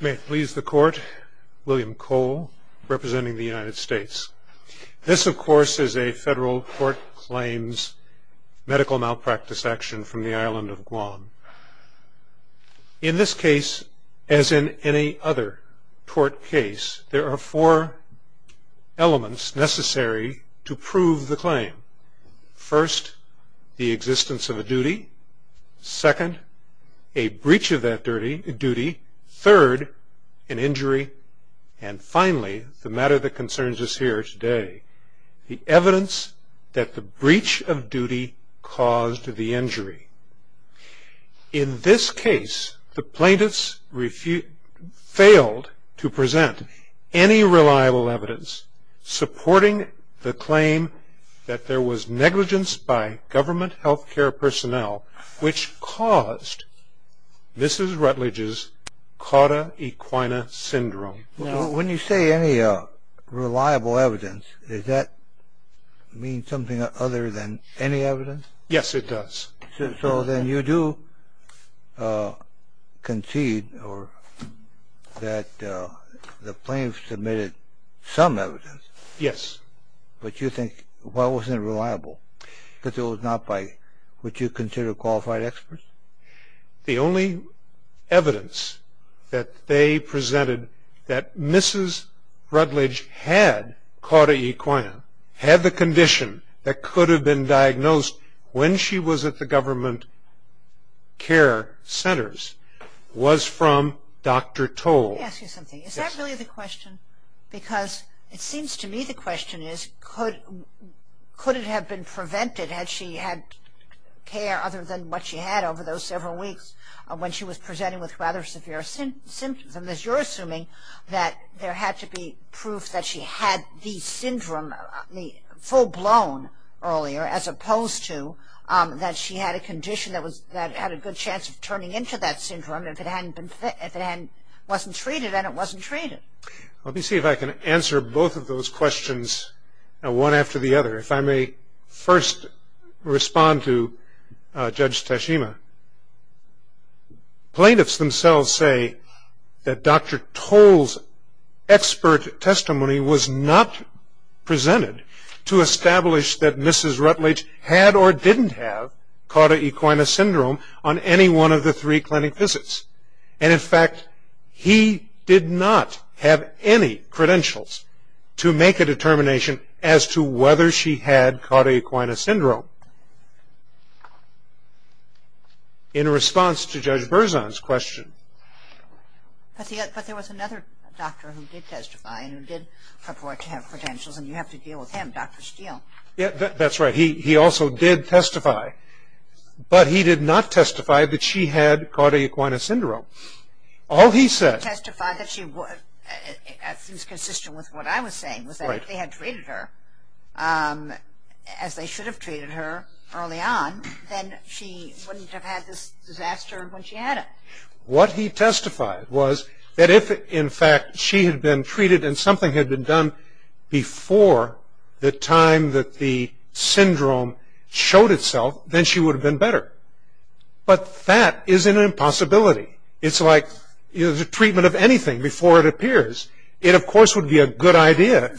May it please the court, William Cole representing the United States. This of course is a federal court claims medical malpractice action from the island of Guam. In this case, as in any other court case, there are four elements necessary to prove the claim. First, the existence of a duty. Second, a breach of that duty. Third, an injury. And finally, the matter that concerns us here today, the evidence that the breach of duty caused the injury. In this case, the plaintiffs failed to present any reliable evidence supporting the claim that there was negligence by government health care personnel which caused Mrs. Rutledge's Cauda Equina Syndrome. When you say any reliable evidence, does that mean something other than any evidence? Yes, it does. So then you do concede that the plaintiffs submitted some evidence. Yes. But you think, why wasn't it reliable? Because it was not by what you consider qualified experts? The only evidence that they presented that Mrs. Rutledge had Cauda Equina, had the condition that could have been diagnosed when she was at the government care centers, was from Dr. Toll. Let me ask you something. Is that really the question? Because it seems to me the prevented, had she had care other than what she had over those several weeks when she was presenting with rather severe symptoms. And you're assuming that there had to be proof that she had the syndrome, the full-blown earlier, as opposed to that she had a condition that had a good chance of turning into that syndrome if it wasn't treated and it wasn't treated. Let me see if I can answer both of those questions one after the other. If I may first respond to Judge Tashima. Plaintiffs themselves say that Dr. Toll's expert testimony was not presented to establish that Mrs. Rutledge had or didn't have Cauda Equina syndrome on any one of the three clinic visits. And in fact, he did not have any credentials to make a determination as to whether she had Cauda Equina syndrome. In response to Judge Berzon's question. But there was another doctor who did testify and did report to have credentials and you have to deal with him, Dr. Steele. That's right. He also did testify. But he did not testify that she had Cauda Equina syndrome, as is consistent with what I was saying, was that if they had treated her, as they should have treated her early on, then she wouldn't have had this disaster when she had it. What he testified was that if in fact she had been treated and something had been done before the time that the syndrome showed itself, then she would have been better. But that is an impossibility. It's like the treatment of anything before it appears. It, of course, would be a good idea.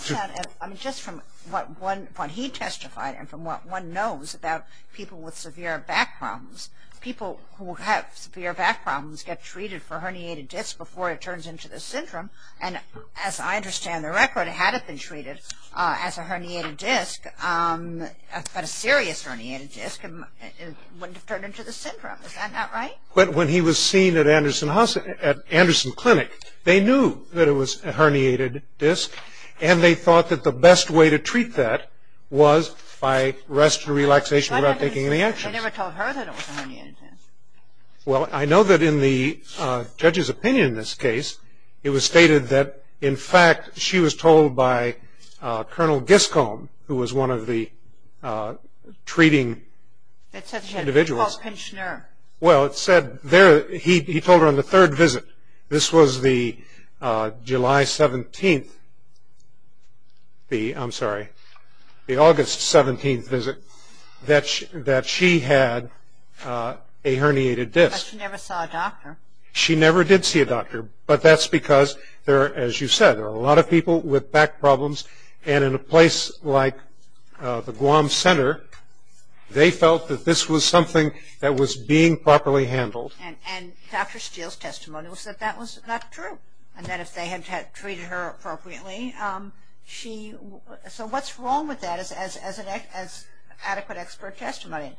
Just from what he testified and from what one knows about people with severe back problems, people who have severe back problems get treated for herniated discs before it turns into the syndrome. And as I understand the record, had it been treated as a herniated disc, but a serious herniated disc, it wouldn't have turned into the syndrome. Is that not right? But when he was seen at Anderson Clinic, they knew that it was a herniated disc and they thought that the best way to treat that was by rest and relaxation without taking any actions. They never told her that it was a herniated disc. Well, I know that in the judge's opinion in this case, it was stated that in fact she was told by Col. Giskolm, who was one of the treating individuals. Well, he told her on the third visit, this was the July 17th, I'm sorry, the August 17th visit, that she had a herniated disc. But she never saw a doctor. She never did see a doctor, but that's because, as you said, there are a lot of people with back problems. And in a place like the Guam Center, they felt that this was something that was being properly handled. And Dr. Steele's testimony was that that was not true. And that if they had treated her appropriately, she, so what's wrong with that as adequate expert testimony?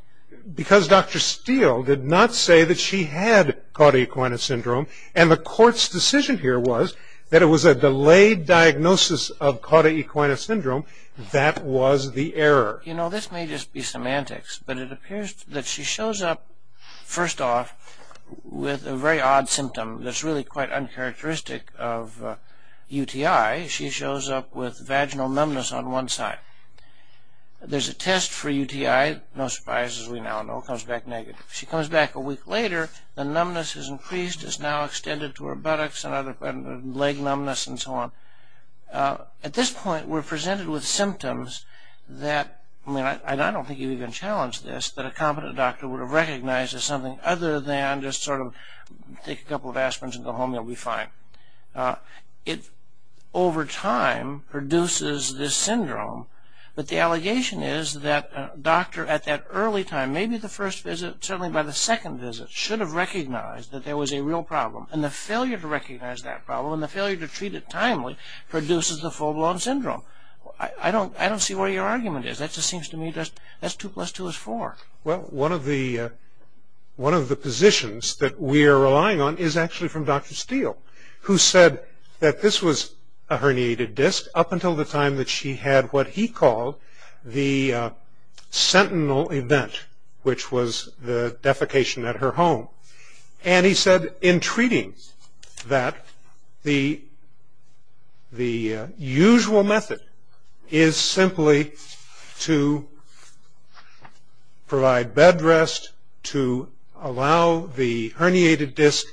Because Dr. Steele did not say that she had Cauda Equina Syndrome. And the court's decision here was that it was a delayed diagnosis of Cauda Equina Syndrome. That was the error. You know, this may just be semantics, but it appears that she shows up, first off, with a very odd symptom that's really quite uncharacteristic of UTI. She shows up with vaginal numbness on one side. There's a test for UTI. No surprise, as we now know, it comes back negative. She comes back a week later. The numbness has increased. It's now extended to her buttocks and leg numbness and so on. At this point, we're presented with symptoms that, I mean, I don't think you'd even challenge this, that a competent doctor would have recognized as something other than just sort of take a couple of aspirins and go home. You'll be fine. It, over time, produces this syndrome. But the allegation is that a doctor, at that early time, maybe the first visit, certainly by the second visit, should have recognized that there was a real problem. And the failure to recognize that problem and the failure to treat it timely produces the full-blown syndrome. I don't see where your argument is. That just seems to me just, that's two plus two is four. Well, one of the positions that we are relying on is actually from Dr. Steele, who said that this was a herniated disc up until the time that she had what he called the sentinel event, which was the defecation at her home. And he said, in treating that, the usual method is simply to provide bed rest, to allow the herniated disc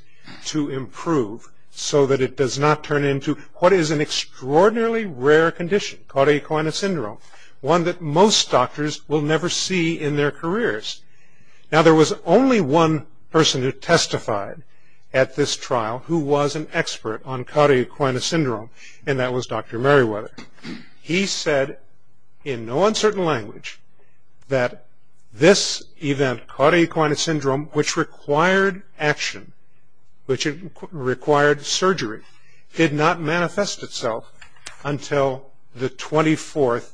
to improve so that it does not turn into what is an extraordinarily rare condition, called E. coli syndrome, one that most doctors will never see in their careers. Now, there was only one person who testified at this trial who was an expert on cauda equina syndrome, and that was Dr. Meriwether. He said, in no uncertain language, that this event, cauda equina syndrome, which required action, which required surgery, did not manifest itself until the 24th.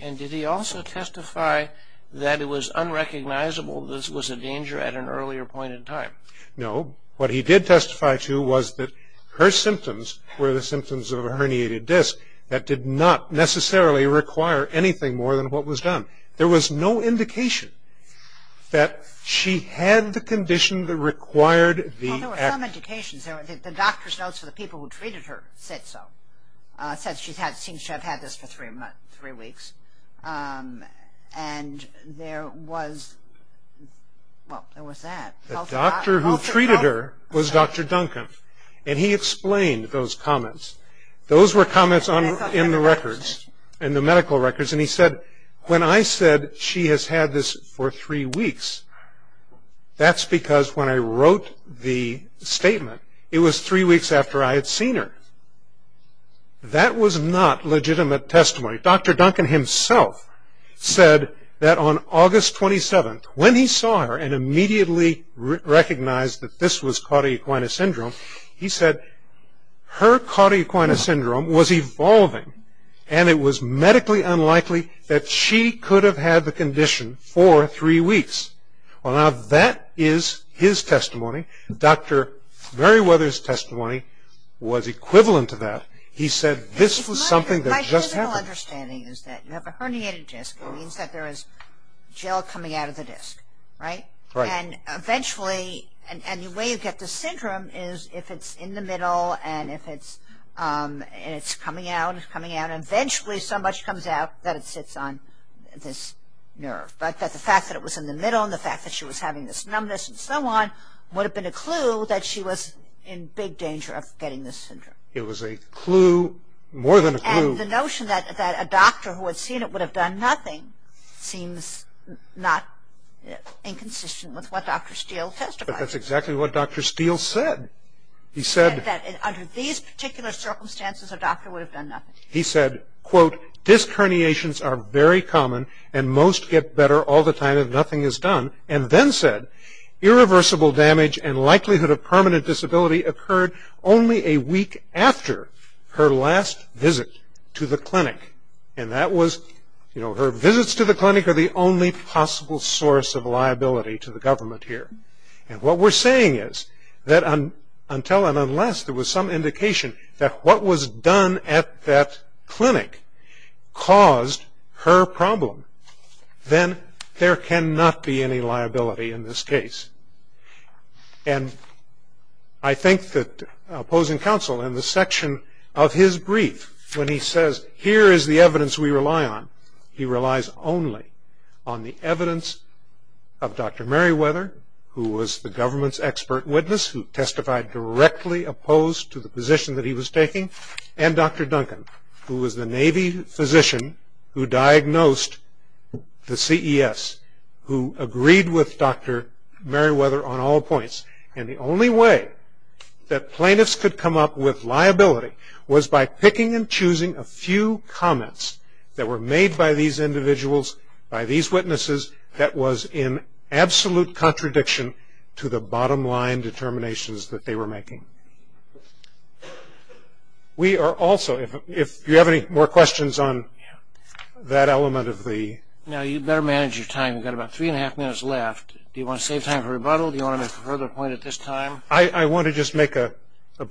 And did he also testify that it was unrecognizable that this was a danger at an earlier point in time? No. What he did testify to was that her symptoms were the symptoms of a herniated disc that did not necessarily require anything more than what was done. There was no indication that she had the condition that required the action. Well, there were some indications. The doctor's notes for the people who treated her said so, said she seems to have had this for three weeks. And there was, well, there was that. The doctor who treated her was Dr. Duncan, and he explained those comments. Those were comments in the records, in the medical records, and he said, when I said she has had this for three weeks, that's because when I wrote the statement, it was three weeks after I had seen her. That was not legitimate testimony. Dr. Duncan himself said that on August 27th, when he saw her and immediately recognized that this was cauda equina syndrome, he said her cauda equina syndrome was evolving, and it was medically unlikely that she could have had the condition for three weeks. Well, now that is his testimony. Dr. Merriweather's testimony was equivalent to that. He said this was something that just happened. My general understanding is that you have a herniated disc. It means that there is gel coming out of the disc, right? Right. And eventually, and the way you get this syndrome is if it's in the middle and if it's coming out, it's coming out, and eventually so much comes out that it sits on this nerve. But the fact that it was in the middle and the fact that she was having this numbness and so on would have been a clue that she was in big danger of getting this syndrome. The notion that a doctor who had seen it would have done nothing seems not inconsistent with what Dr. Steele testified. But that's exactly what Dr. Steele said. He said that under these particular circumstances, a doctor would have done nothing. He said, quote, disc herniations are very common and most get better all the time if nothing is done, and then said irreversible damage and likelihood of permanent disability occurred only a week after her last visit to the clinic. And that was, you know, her visits to the clinic are the only possible source of liability to the government here. And what we're saying is that until and unless there was some indication that what was done at that clinic caused her problem, then there cannot be any liability in this case. And I think that opposing counsel in the section of his brief, when he says here is the evidence we rely on, he relies only on the evidence of Dr. Merriweather, who was the government's expert witness who testified directly opposed to the position that he was taking, and Dr. Duncan, who was the Navy physician who diagnosed the CES, who agreed with Dr. Merriweather on all points. And the only way that plaintiffs could come up with liability was by picking and choosing a few comments that were made by these individuals, by these witnesses, that was in absolute contradiction to the bottom line determinations that they were making. We are also, if you have any more questions on that element of the... Now, you better manage your time. You've got about three and a half minutes left. Do you want to save time for rebuttal? Do you want to make a further point at this time? I want to just make a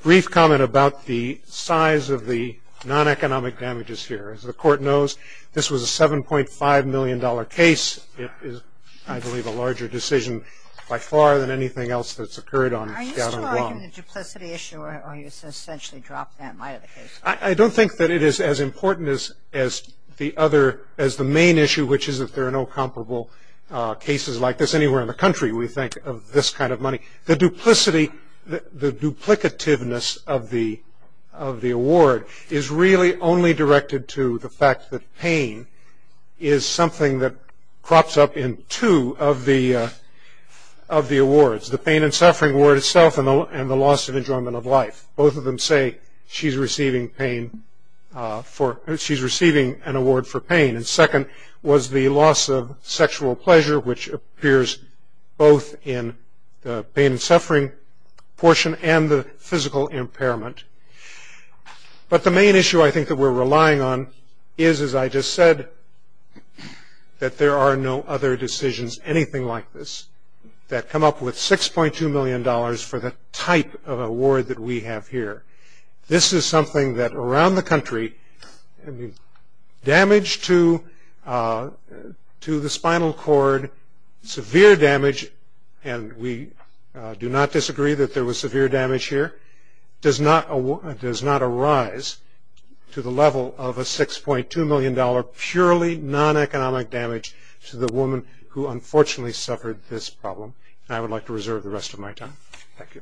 brief comment about the size of the non-economic damages here. As the court knows, this was a $7.5 million case. It is, I believe, a larger decision by far than anything else that's occurred on Gatlin Rung. Are you still arguing the duplicity issue, or you essentially dropped that might of the case? I don't think that it is as important as the main issue, which is that there are no comparable cases like this anywhere in the country, we think, of this kind of money. The duplicity, the duplicativeness of the award is really only directed to the fact that pain is something that crops up in two of the awards, the pain and suffering award itself and the loss of enjoyment of life. Both of them say she's receiving an award for pain. Second was the loss of sexual pleasure, which appears both in the pain and suffering portion and the physical impairment. But the main issue I think that we're relying on is, as I just said, that there are no other decisions, anything like this, that come up with $6.2 million for the type of award that we have here. This is something that around the country, damage to the spinal cord, severe damage, and we do not disagree that there was severe damage here, does not arise to the level of a $6.2 million purely non-economic damage to the woman who unfortunately suffered this problem. And I would like to reserve the rest of my time. Thank you.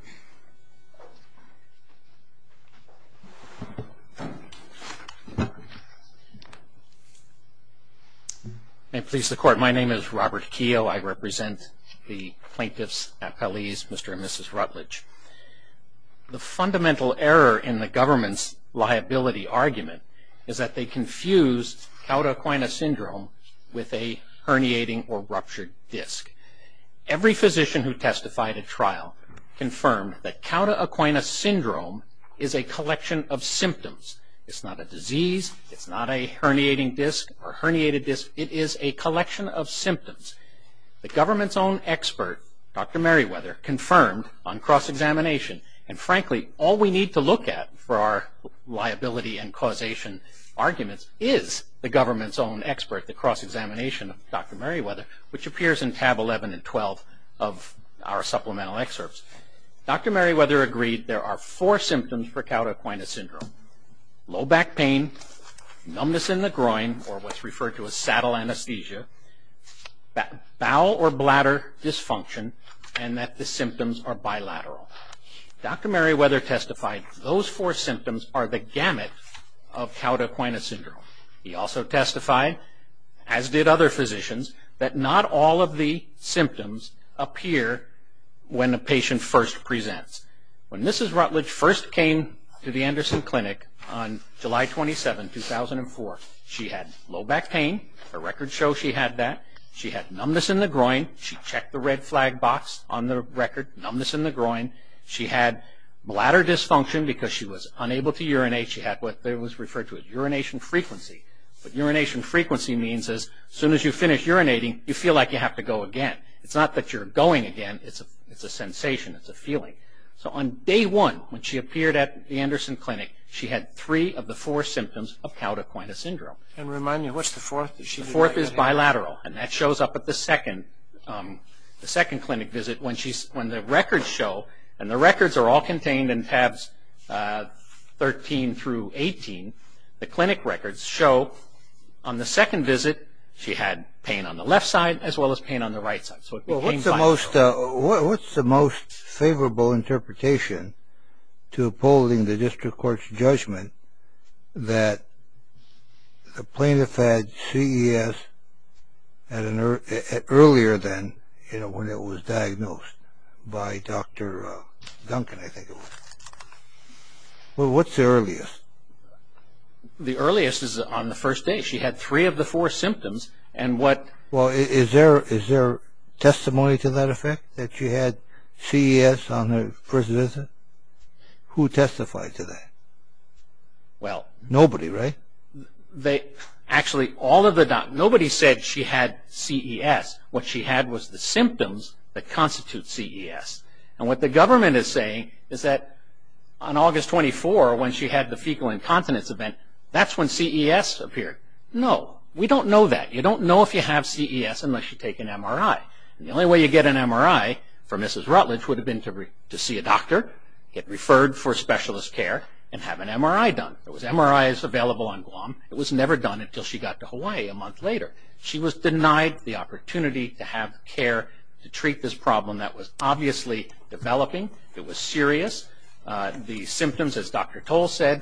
May it please the Court. My name is Robert Keogh. I represent the plaintiff's appellees, Mr. and Mrs. Rutledge. The fundamental error in the government's liability argument is that they confuse Cauda Equina Syndrome with a herniating or ruptured disc. Every physician who testified at trial confirmed that Cauda Equina Syndrome is a collection of symptoms. It's not a disease. It's not a herniating disc or herniated disc. It is a collection of symptoms. The government's own expert, Dr. Merriweather, confirmed on cross-examination, and frankly, all we need to look at for our liability and causation arguments is the government's own expert, the cross-examination of Dr. Merriweather, which appears in tab 11 and 12 of our supplemental excerpts. Dr. Merriweather agreed there are four symptoms for Cauda Equina Syndrome, low back pain, numbness in the groin, or what's referred to as saddle anesthesia, bowel or bladder dysfunction, and that the symptoms are bilateral. Dr. Merriweather testified those four symptoms are the gamut of Cauda Equina Syndrome. He also testified, as did other physicians, that not all of the symptoms appear when a patient first presents. When Mrs. Rutledge first came to the Anderson Clinic on July 27, 2004, she had low back pain. The records show she had that. She had numbness in the groin. She checked the red flag box on the record, numbness in the groin. She had bladder dysfunction because she was unable to urinate. She had what was referred to as urination frequency. What urination frequency means is as soon as you finish urinating, you feel like you have to go again. It's not that you're going again. It's a sensation. It's a feeling. On day one, when she appeared at the Anderson Clinic, she had three of the four symptoms of Cauda Equina Syndrome. And remind me, what's the fourth? The fourth is bilateral, and that shows up at the second clinic visit. When the records show, and the records are all contained in tabs 13 through 18, the clinic records show on the second visit she had pain on the left side as well as pain on the right side. What's the most favorable interpretation to upholding the district court's judgment that the plaintiff had CES earlier than when it was diagnosed by Dr. Duncan, I think it was? What's the earliest? The earliest is on the first day. She had three of the four symptoms. Well, is there testimony to that effect, that she had CES on her first visit? Who testified to that? Nobody, right? Actually, nobody said she had CES. What she had was the symptoms that constitute CES. And what the government is saying is that on August 24, when she had the fecal incontinence event, that's when CES appeared. No. We don't know that. You don't know if you have CES unless you take an MRI. The only way you get an MRI for Mrs. Rutledge would have been to see a doctor, get referred for specialist care, and have an MRI done. There was MRIs available on Guam. It was never done until she got to Hawaii a month later. She was denied the opportunity to have care to treat this problem that was obviously developing. It was serious. The symptoms, as Dr. Toll said,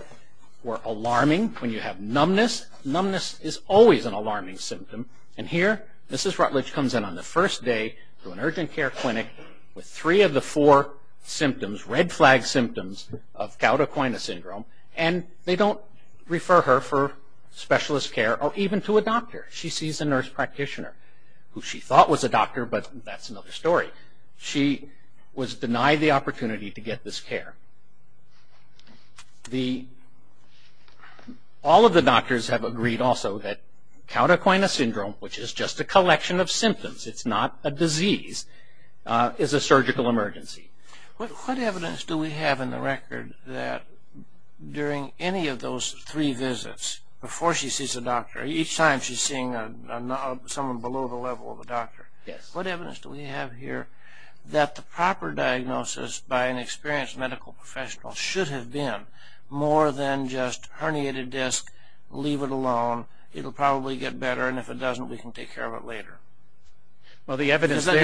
were alarming. When you have numbness, numbness is always an alarming symptom. Here, Mrs. Rutledge comes in on the first day to an urgent care clinic with three of the four symptoms, red flag symptoms, of Cauda Coina Syndrome. They don't refer her for specialist care or even to a doctor. She sees a nurse practitioner who she thought was a doctor, but that's another story. She was denied the opportunity to get this care. All of the doctors have agreed also that Cauda Coina Syndrome, which is just a collection of symptoms, it's not a disease, is a surgical emergency. What evidence do we have in the record that during any of those three visits, before she sees a doctor, each time she's seeing someone below the level of a doctor, what evidence do we have here that the proper diagnosis by an experienced medical professional should have been more than just herniated disc, leave it alone, it'll probably get better, and if it doesn't, we can take care of it later? The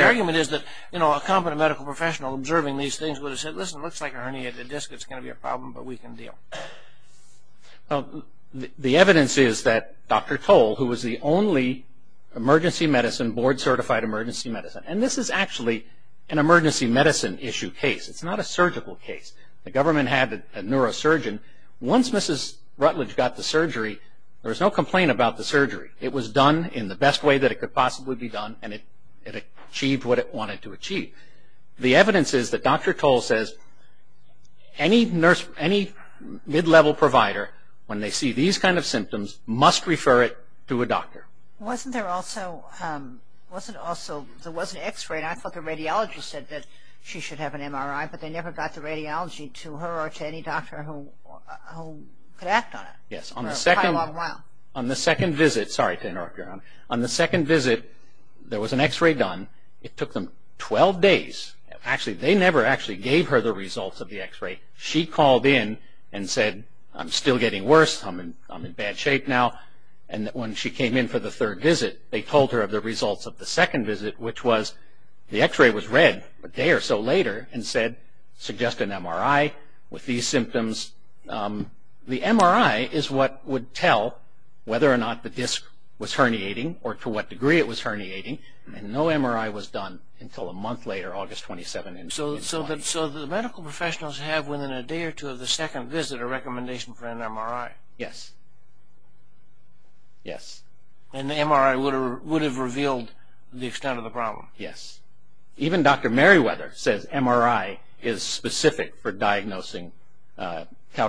argument is that a competent medical professional observing these things would have said, listen, it looks like a herniated disc, it's going to be a problem, but we can deal. The evidence is that Dr. Toll, who was the only board-certified emergency medicine, and this is actually an emergency medicine issue case. It's not a surgical case. The government had a neurosurgeon. Once Mrs. Rutledge got the surgery, there was no complaint about the surgery. It was done in the best way that it could possibly be done, and it achieved what it wanted to achieve. The evidence is that Dr. Toll says any mid-level provider, when they see these kind of symptoms, must refer it to a doctor. Wasn't there also, there was an x-ray, and I thought the radiologist said that she should have an MRI, but they never got the radiology to her or to any doctor who could act on it for a long while. Yes, on the second visit, sorry to interrupt you, on the second visit, there was an x-ray done. It took them 12 days. Actually, they never actually gave her the results of the x-ray. She called in and said, I'm still getting worse. I'm in bad shape now. When she came in for the third visit, they told her of the results of the second visit, which was the x-ray was read a day or so later and said, suggest an MRI with these symptoms. The MRI is what would tell whether or not the disc was herniating or to what degree it was herniating, and no MRI was done until a month later, August 27, 2001. So the medical professionals have, within a day or two of the second visit, a recommendation for an MRI? Yes, yes. And the MRI would have revealed the extent of the problem? Yes. Even Dr. Merriweather says MRI is specific for diagnosing Cauda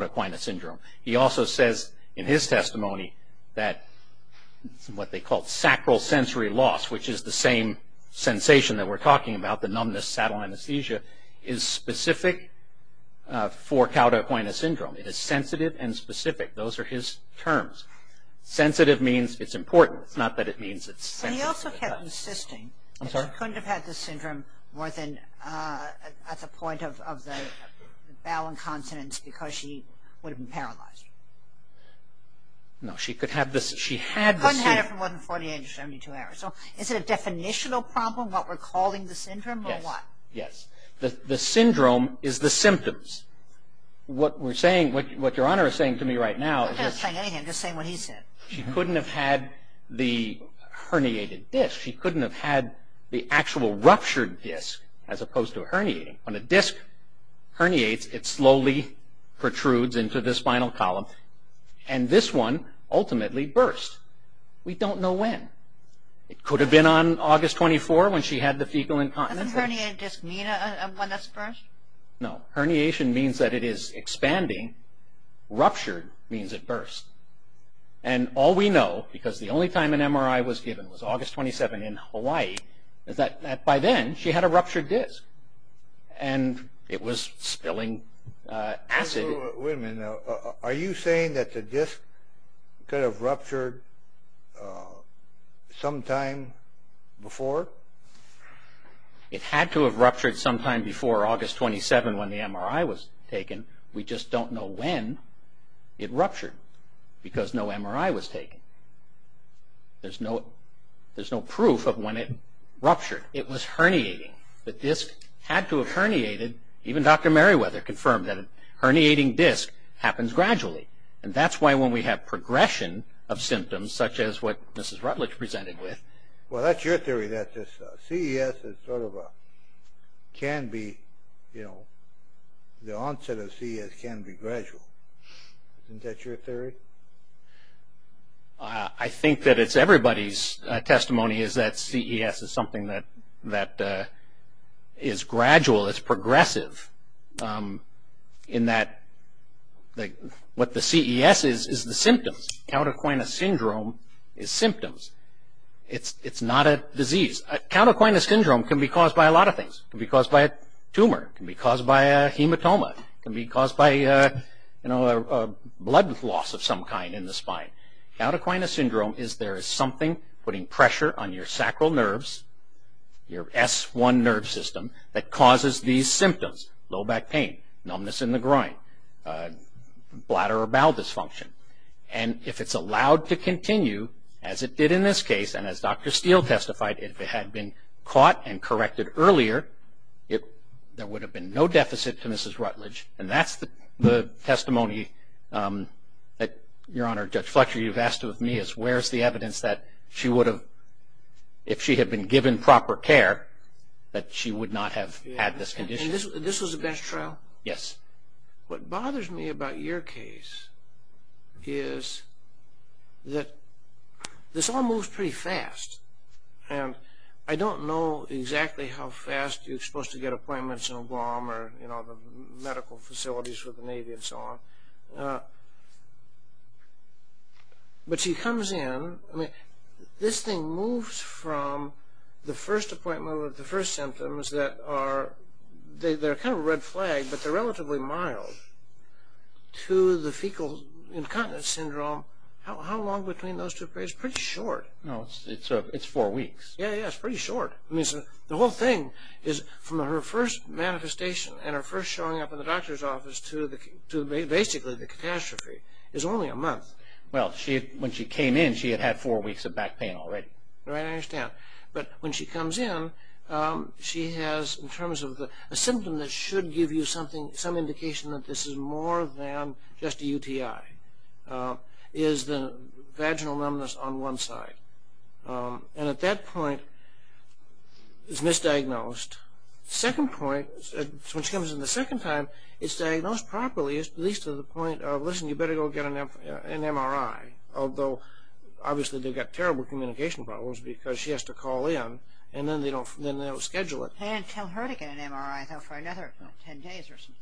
Quina syndrome. He also says in his testimony that what they call sacral sensory loss, which is the same sensation that we're talking about, the numbness, saddle anesthesia, is specific for Cauda Quina syndrome. It is sensitive and specific. Those are his terms. Sensitive means it's important. It's not that it means it's sensitive. He also kept insisting she couldn't have had this syndrome more than at the point of the bowel incontinence because she would have been paralyzed. No, she could have this. She had this. Couldn't have had it for more than 48 to 72 hours. So is it a definitional problem, what we're calling the syndrome, or what? Yes, yes. The syndrome is the symptoms. What we're saying, what Your Honor is saying to me right now is… I'm not saying anything. I'm just saying what he said. She couldn't have had the herniated disc. She couldn't have had the actual ruptured disc as opposed to herniating. When a disc herniates, it slowly protrudes into the spinal column, and this one ultimately bursts. We don't know when. It could have been on August 24 when she had the fecal incontinence. Doesn't herniated disc mean when it bursts? No. Herniation means that it is expanding. Ruptured means it bursts. All we know, because the only time an MRI was given was August 27 in Hawaii, is that by then she had a ruptured disc, and it was spilling acid. Wait a minute now. Are you saying that the disc could have ruptured sometime before? It had to have ruptured sometime before August 27 when the MRI was taken. We just don't know when it ruptured because no MRI was taken. There's no proof of when it ruptured. It was herniating. The disc had to have herniated. Even Dr. Merriweather confirmed that a herniating disc happens gradually, and that's why when we have progression of symptoms, such as what Mrs. Rutledge presented with. Well, that's your theory, that this CES can be, you know, the onset of CES can be gradual. Isn't that your theory? I think that it's everybody's testimony is that CES is something that is gradual. It's progressive in that what the CES is is the symptoms. Countercoinous syndrome is symptoms. It's not a disease. Countercoinous syndrome can be caused by a lot of things. It can be caused by a tumor. It can be caused by a hematoma. It can be caused by, you know, a blood loss of some kind in the spine. Countercoinous syndrome is there is something putting pressure on your sacral nerves, your S1 nerve system, that causes these symptoms. Low back pain, numbness in the groin, bladder or bowel dysfunction. And if it's allowed to continue, as it did in this case, and as Dr. Steele testified, if it had been caught and corrected earlier, there would have been no deficit to Mrs. Rutledge. And that's the testimony that, Your Honor, Judge Fletcher, you've asked of me, is where's the evidence that she would have, if she had been given proper care, that she would not have had this condition. And this was a best trial? Yes. What bothers me about your case is that this all moves pretty fast. And I don't know exactly how fast you're supposed to get appointments in Guam or, you know, the medical facilities with the Navy and so on. But she comes in, I mean, this thing moves from the first appointment with the first symptoms that are kind of a red flag, but they're relatively mild, to the fecal incontinence syndrome. How long between those two? It's pretty short. It's four weeks. Yeah, yeah, it's pretty short. The whole thing is from her first manifestation and her first showing up in the doctor's office to basically the catastrophe is only a month. Well, when she came in, she had had four weeks of back pain already. Right, I understand. But when she comes in, she has, in terms of a symptom that should give you some indication that this is more than just a UTI, is the vaginal numbness on one side. And at that point, it's misdiagnosed. Second point, when she comes in the second time, it's diagnosed properly, at least to the point of, listen, you better go get an MRI. Although, obviously, they've got terrible communication problems because she has to call in, and then they don't schedule it. They didn't tell her to get an MRI, though, for another ten days or something.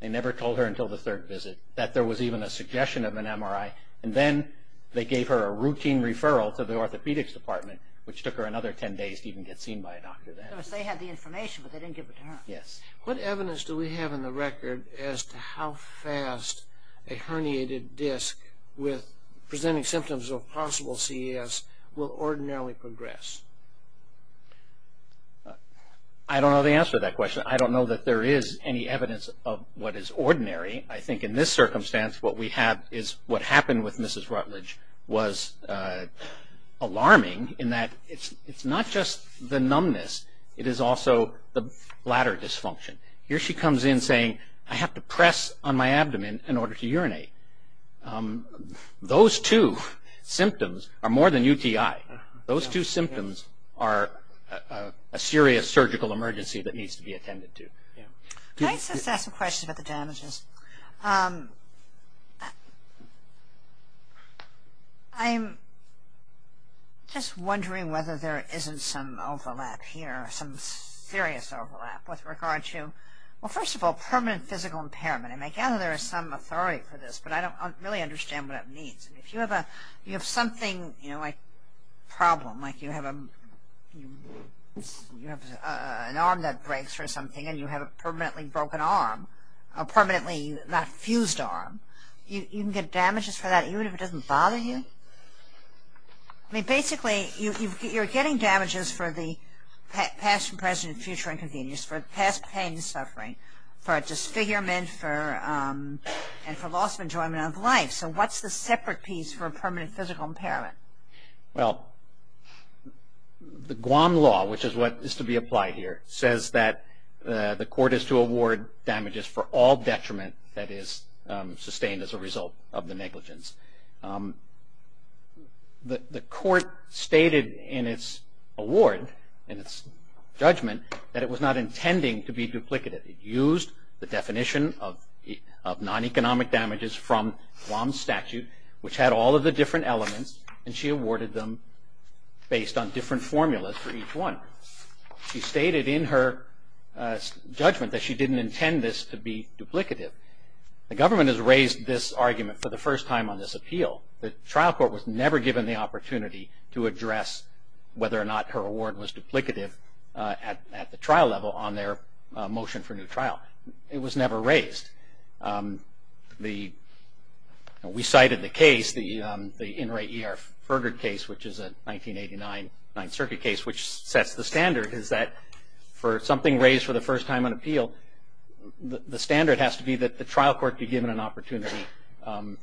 They never told her until the third visit that there was even a suggestion of an MRI, and then they gave her a routine referral to the orthopedics department, which took her another ten days to even get seen by a doctor then. So they had the information, but they didn't give it to her. Yes. What evidence do we have in the record as to how fast a herniated disc with presenting symptoms of possible CES will ordinarily progress? I don't know the answer to that question. I don't know that there is any evidence of what is ordinary. I think in this circumstance, what we have is what happened with Mrs. Rutledge was alarming in that it's not just the numbness, it is also the bladder dysfunction. Here she comes in saying, I have to press on my abdomen in order to urinate. Those two symptoms are more than UTI. Those two symptoms are a serious surgical emergency that needs to be attended to. Can I just ask a question about the damages? I'm just wondering whether there isn't some overlap here, some serious overlap with regard to, well, first of all, permanent physical impairment. I gather there is some authority for this, but I don't really understand what it means. If you have something like a problem, like you have an arm that breaks or something and you have a permanently broken arm, a permanently not fused arm, you can get damages for that even if it doesn't bother you? Basically, you're getting damages for the past, present, future inconvenience, for past pain and suffering, for a disfigurement and for loss of enjoyment of life. So what's the separate piece for permanent physical impairment? Well, the Guam law, which is what is to be applied here, says that the court is to award damages for all detriment that is sustained as a result of the negligence. The court stated in its award, in its judgment, that it was not intending to be duplicative. It used the definition of non-economic damages from Guam's statute, which had all of the different elements, and she awarded them based on different formulas for each one. She stated in her judgment that she didn't intend this to be duplicative. The government has raised this argument for the first time on this appeal. The trial court was never given the opportunity to address whether or not her award was duplicative at the trial level on their motion for new trial. It was never raised. We cited the case, the In Re E R Furgard case, which is a 1989 Ninth Circuit case, which sets the standard is that for something raised for the first time on appeal, the standard has to be that the trial court be given an opportunity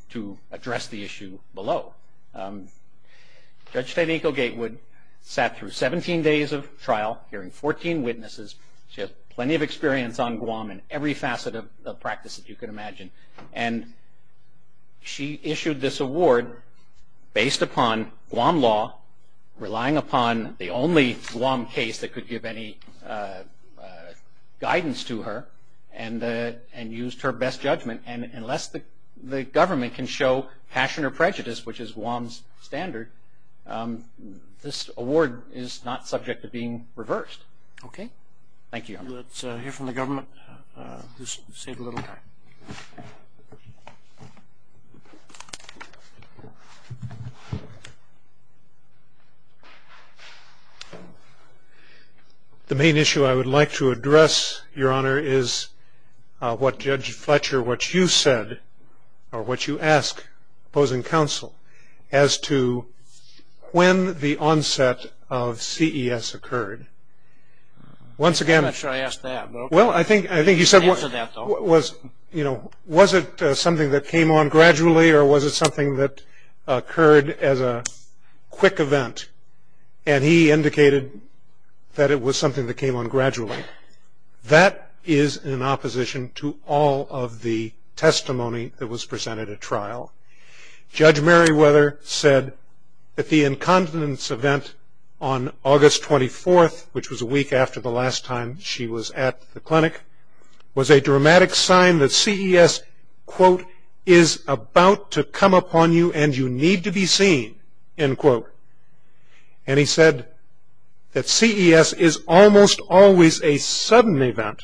to address the issue below. Judge Fedeco-Gatewood sat through 17 days of trial, hearing 14 witnesses. She has plenty of experience on Guam in every facet of practice that you can imagine. She issued this award based upon Guam law, relying upon the only Guam case that could give any guidance to her, and used her best judgment. Unless the government can show passion or prejudice, which is Guam's standard, this award is not subject to being reversed. Thank you, Your Honor. Let's hear from the government who's saved a little time. The main issue I would like to address, Your Honor, is what Judge Fletcher, what you said, or what you ask opposing counsel as to when the onset of CES occurred. Once again- I'm not sure I asked that. Well, I think you said- I didn't answer that, though. Was it something that came on gradually, or was it something that occurred as a quick event? And he indicated that it was something that came on gradually. That is in opposition to all of the testimony that was presented at trial. Judge Merriweather said that the incontinence event on August 24th, which was a week after the last time she was at the clinic, was a dramatic sign that CES, quote, is about to come upon you and you need to be seen, end quote. And he said that CES is almost always a sudden event,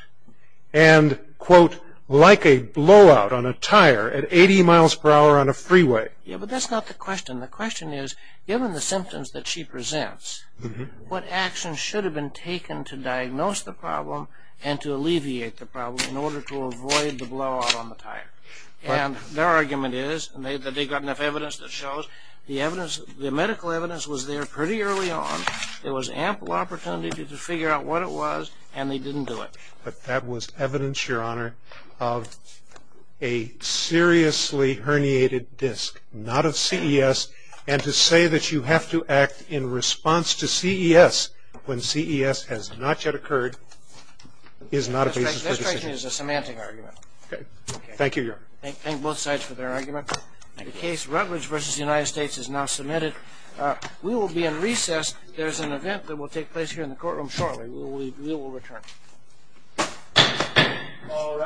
and, quote, like a blowout on a tire at 80 miles per hour on a freeway. Yeah, but that's not the question. The question is, given the symptoms that she presents, what action should have been taken to diagnose the problem and to alleviate the problem in order to avoid the blowout on the tire? And their argument is, and they've got enough evidence that shows, the medical evidence was there pretty early on. There was ample opportunity to figure out what it was, and they didn't do it. But that was evidence, Your Honor, of a seriously herniated disc, not of CES, and to say that you have to act in response to CES when CES has not yet occurred is not a basis for decision. This case is a semantic argument. Okay. Thank you, Your Honor. Thank both sides for their argument. The case Rutledge v. United States is now submitted. We will be in recess. There's an event that will take place here in the courtroom shortly. We will return. All rise.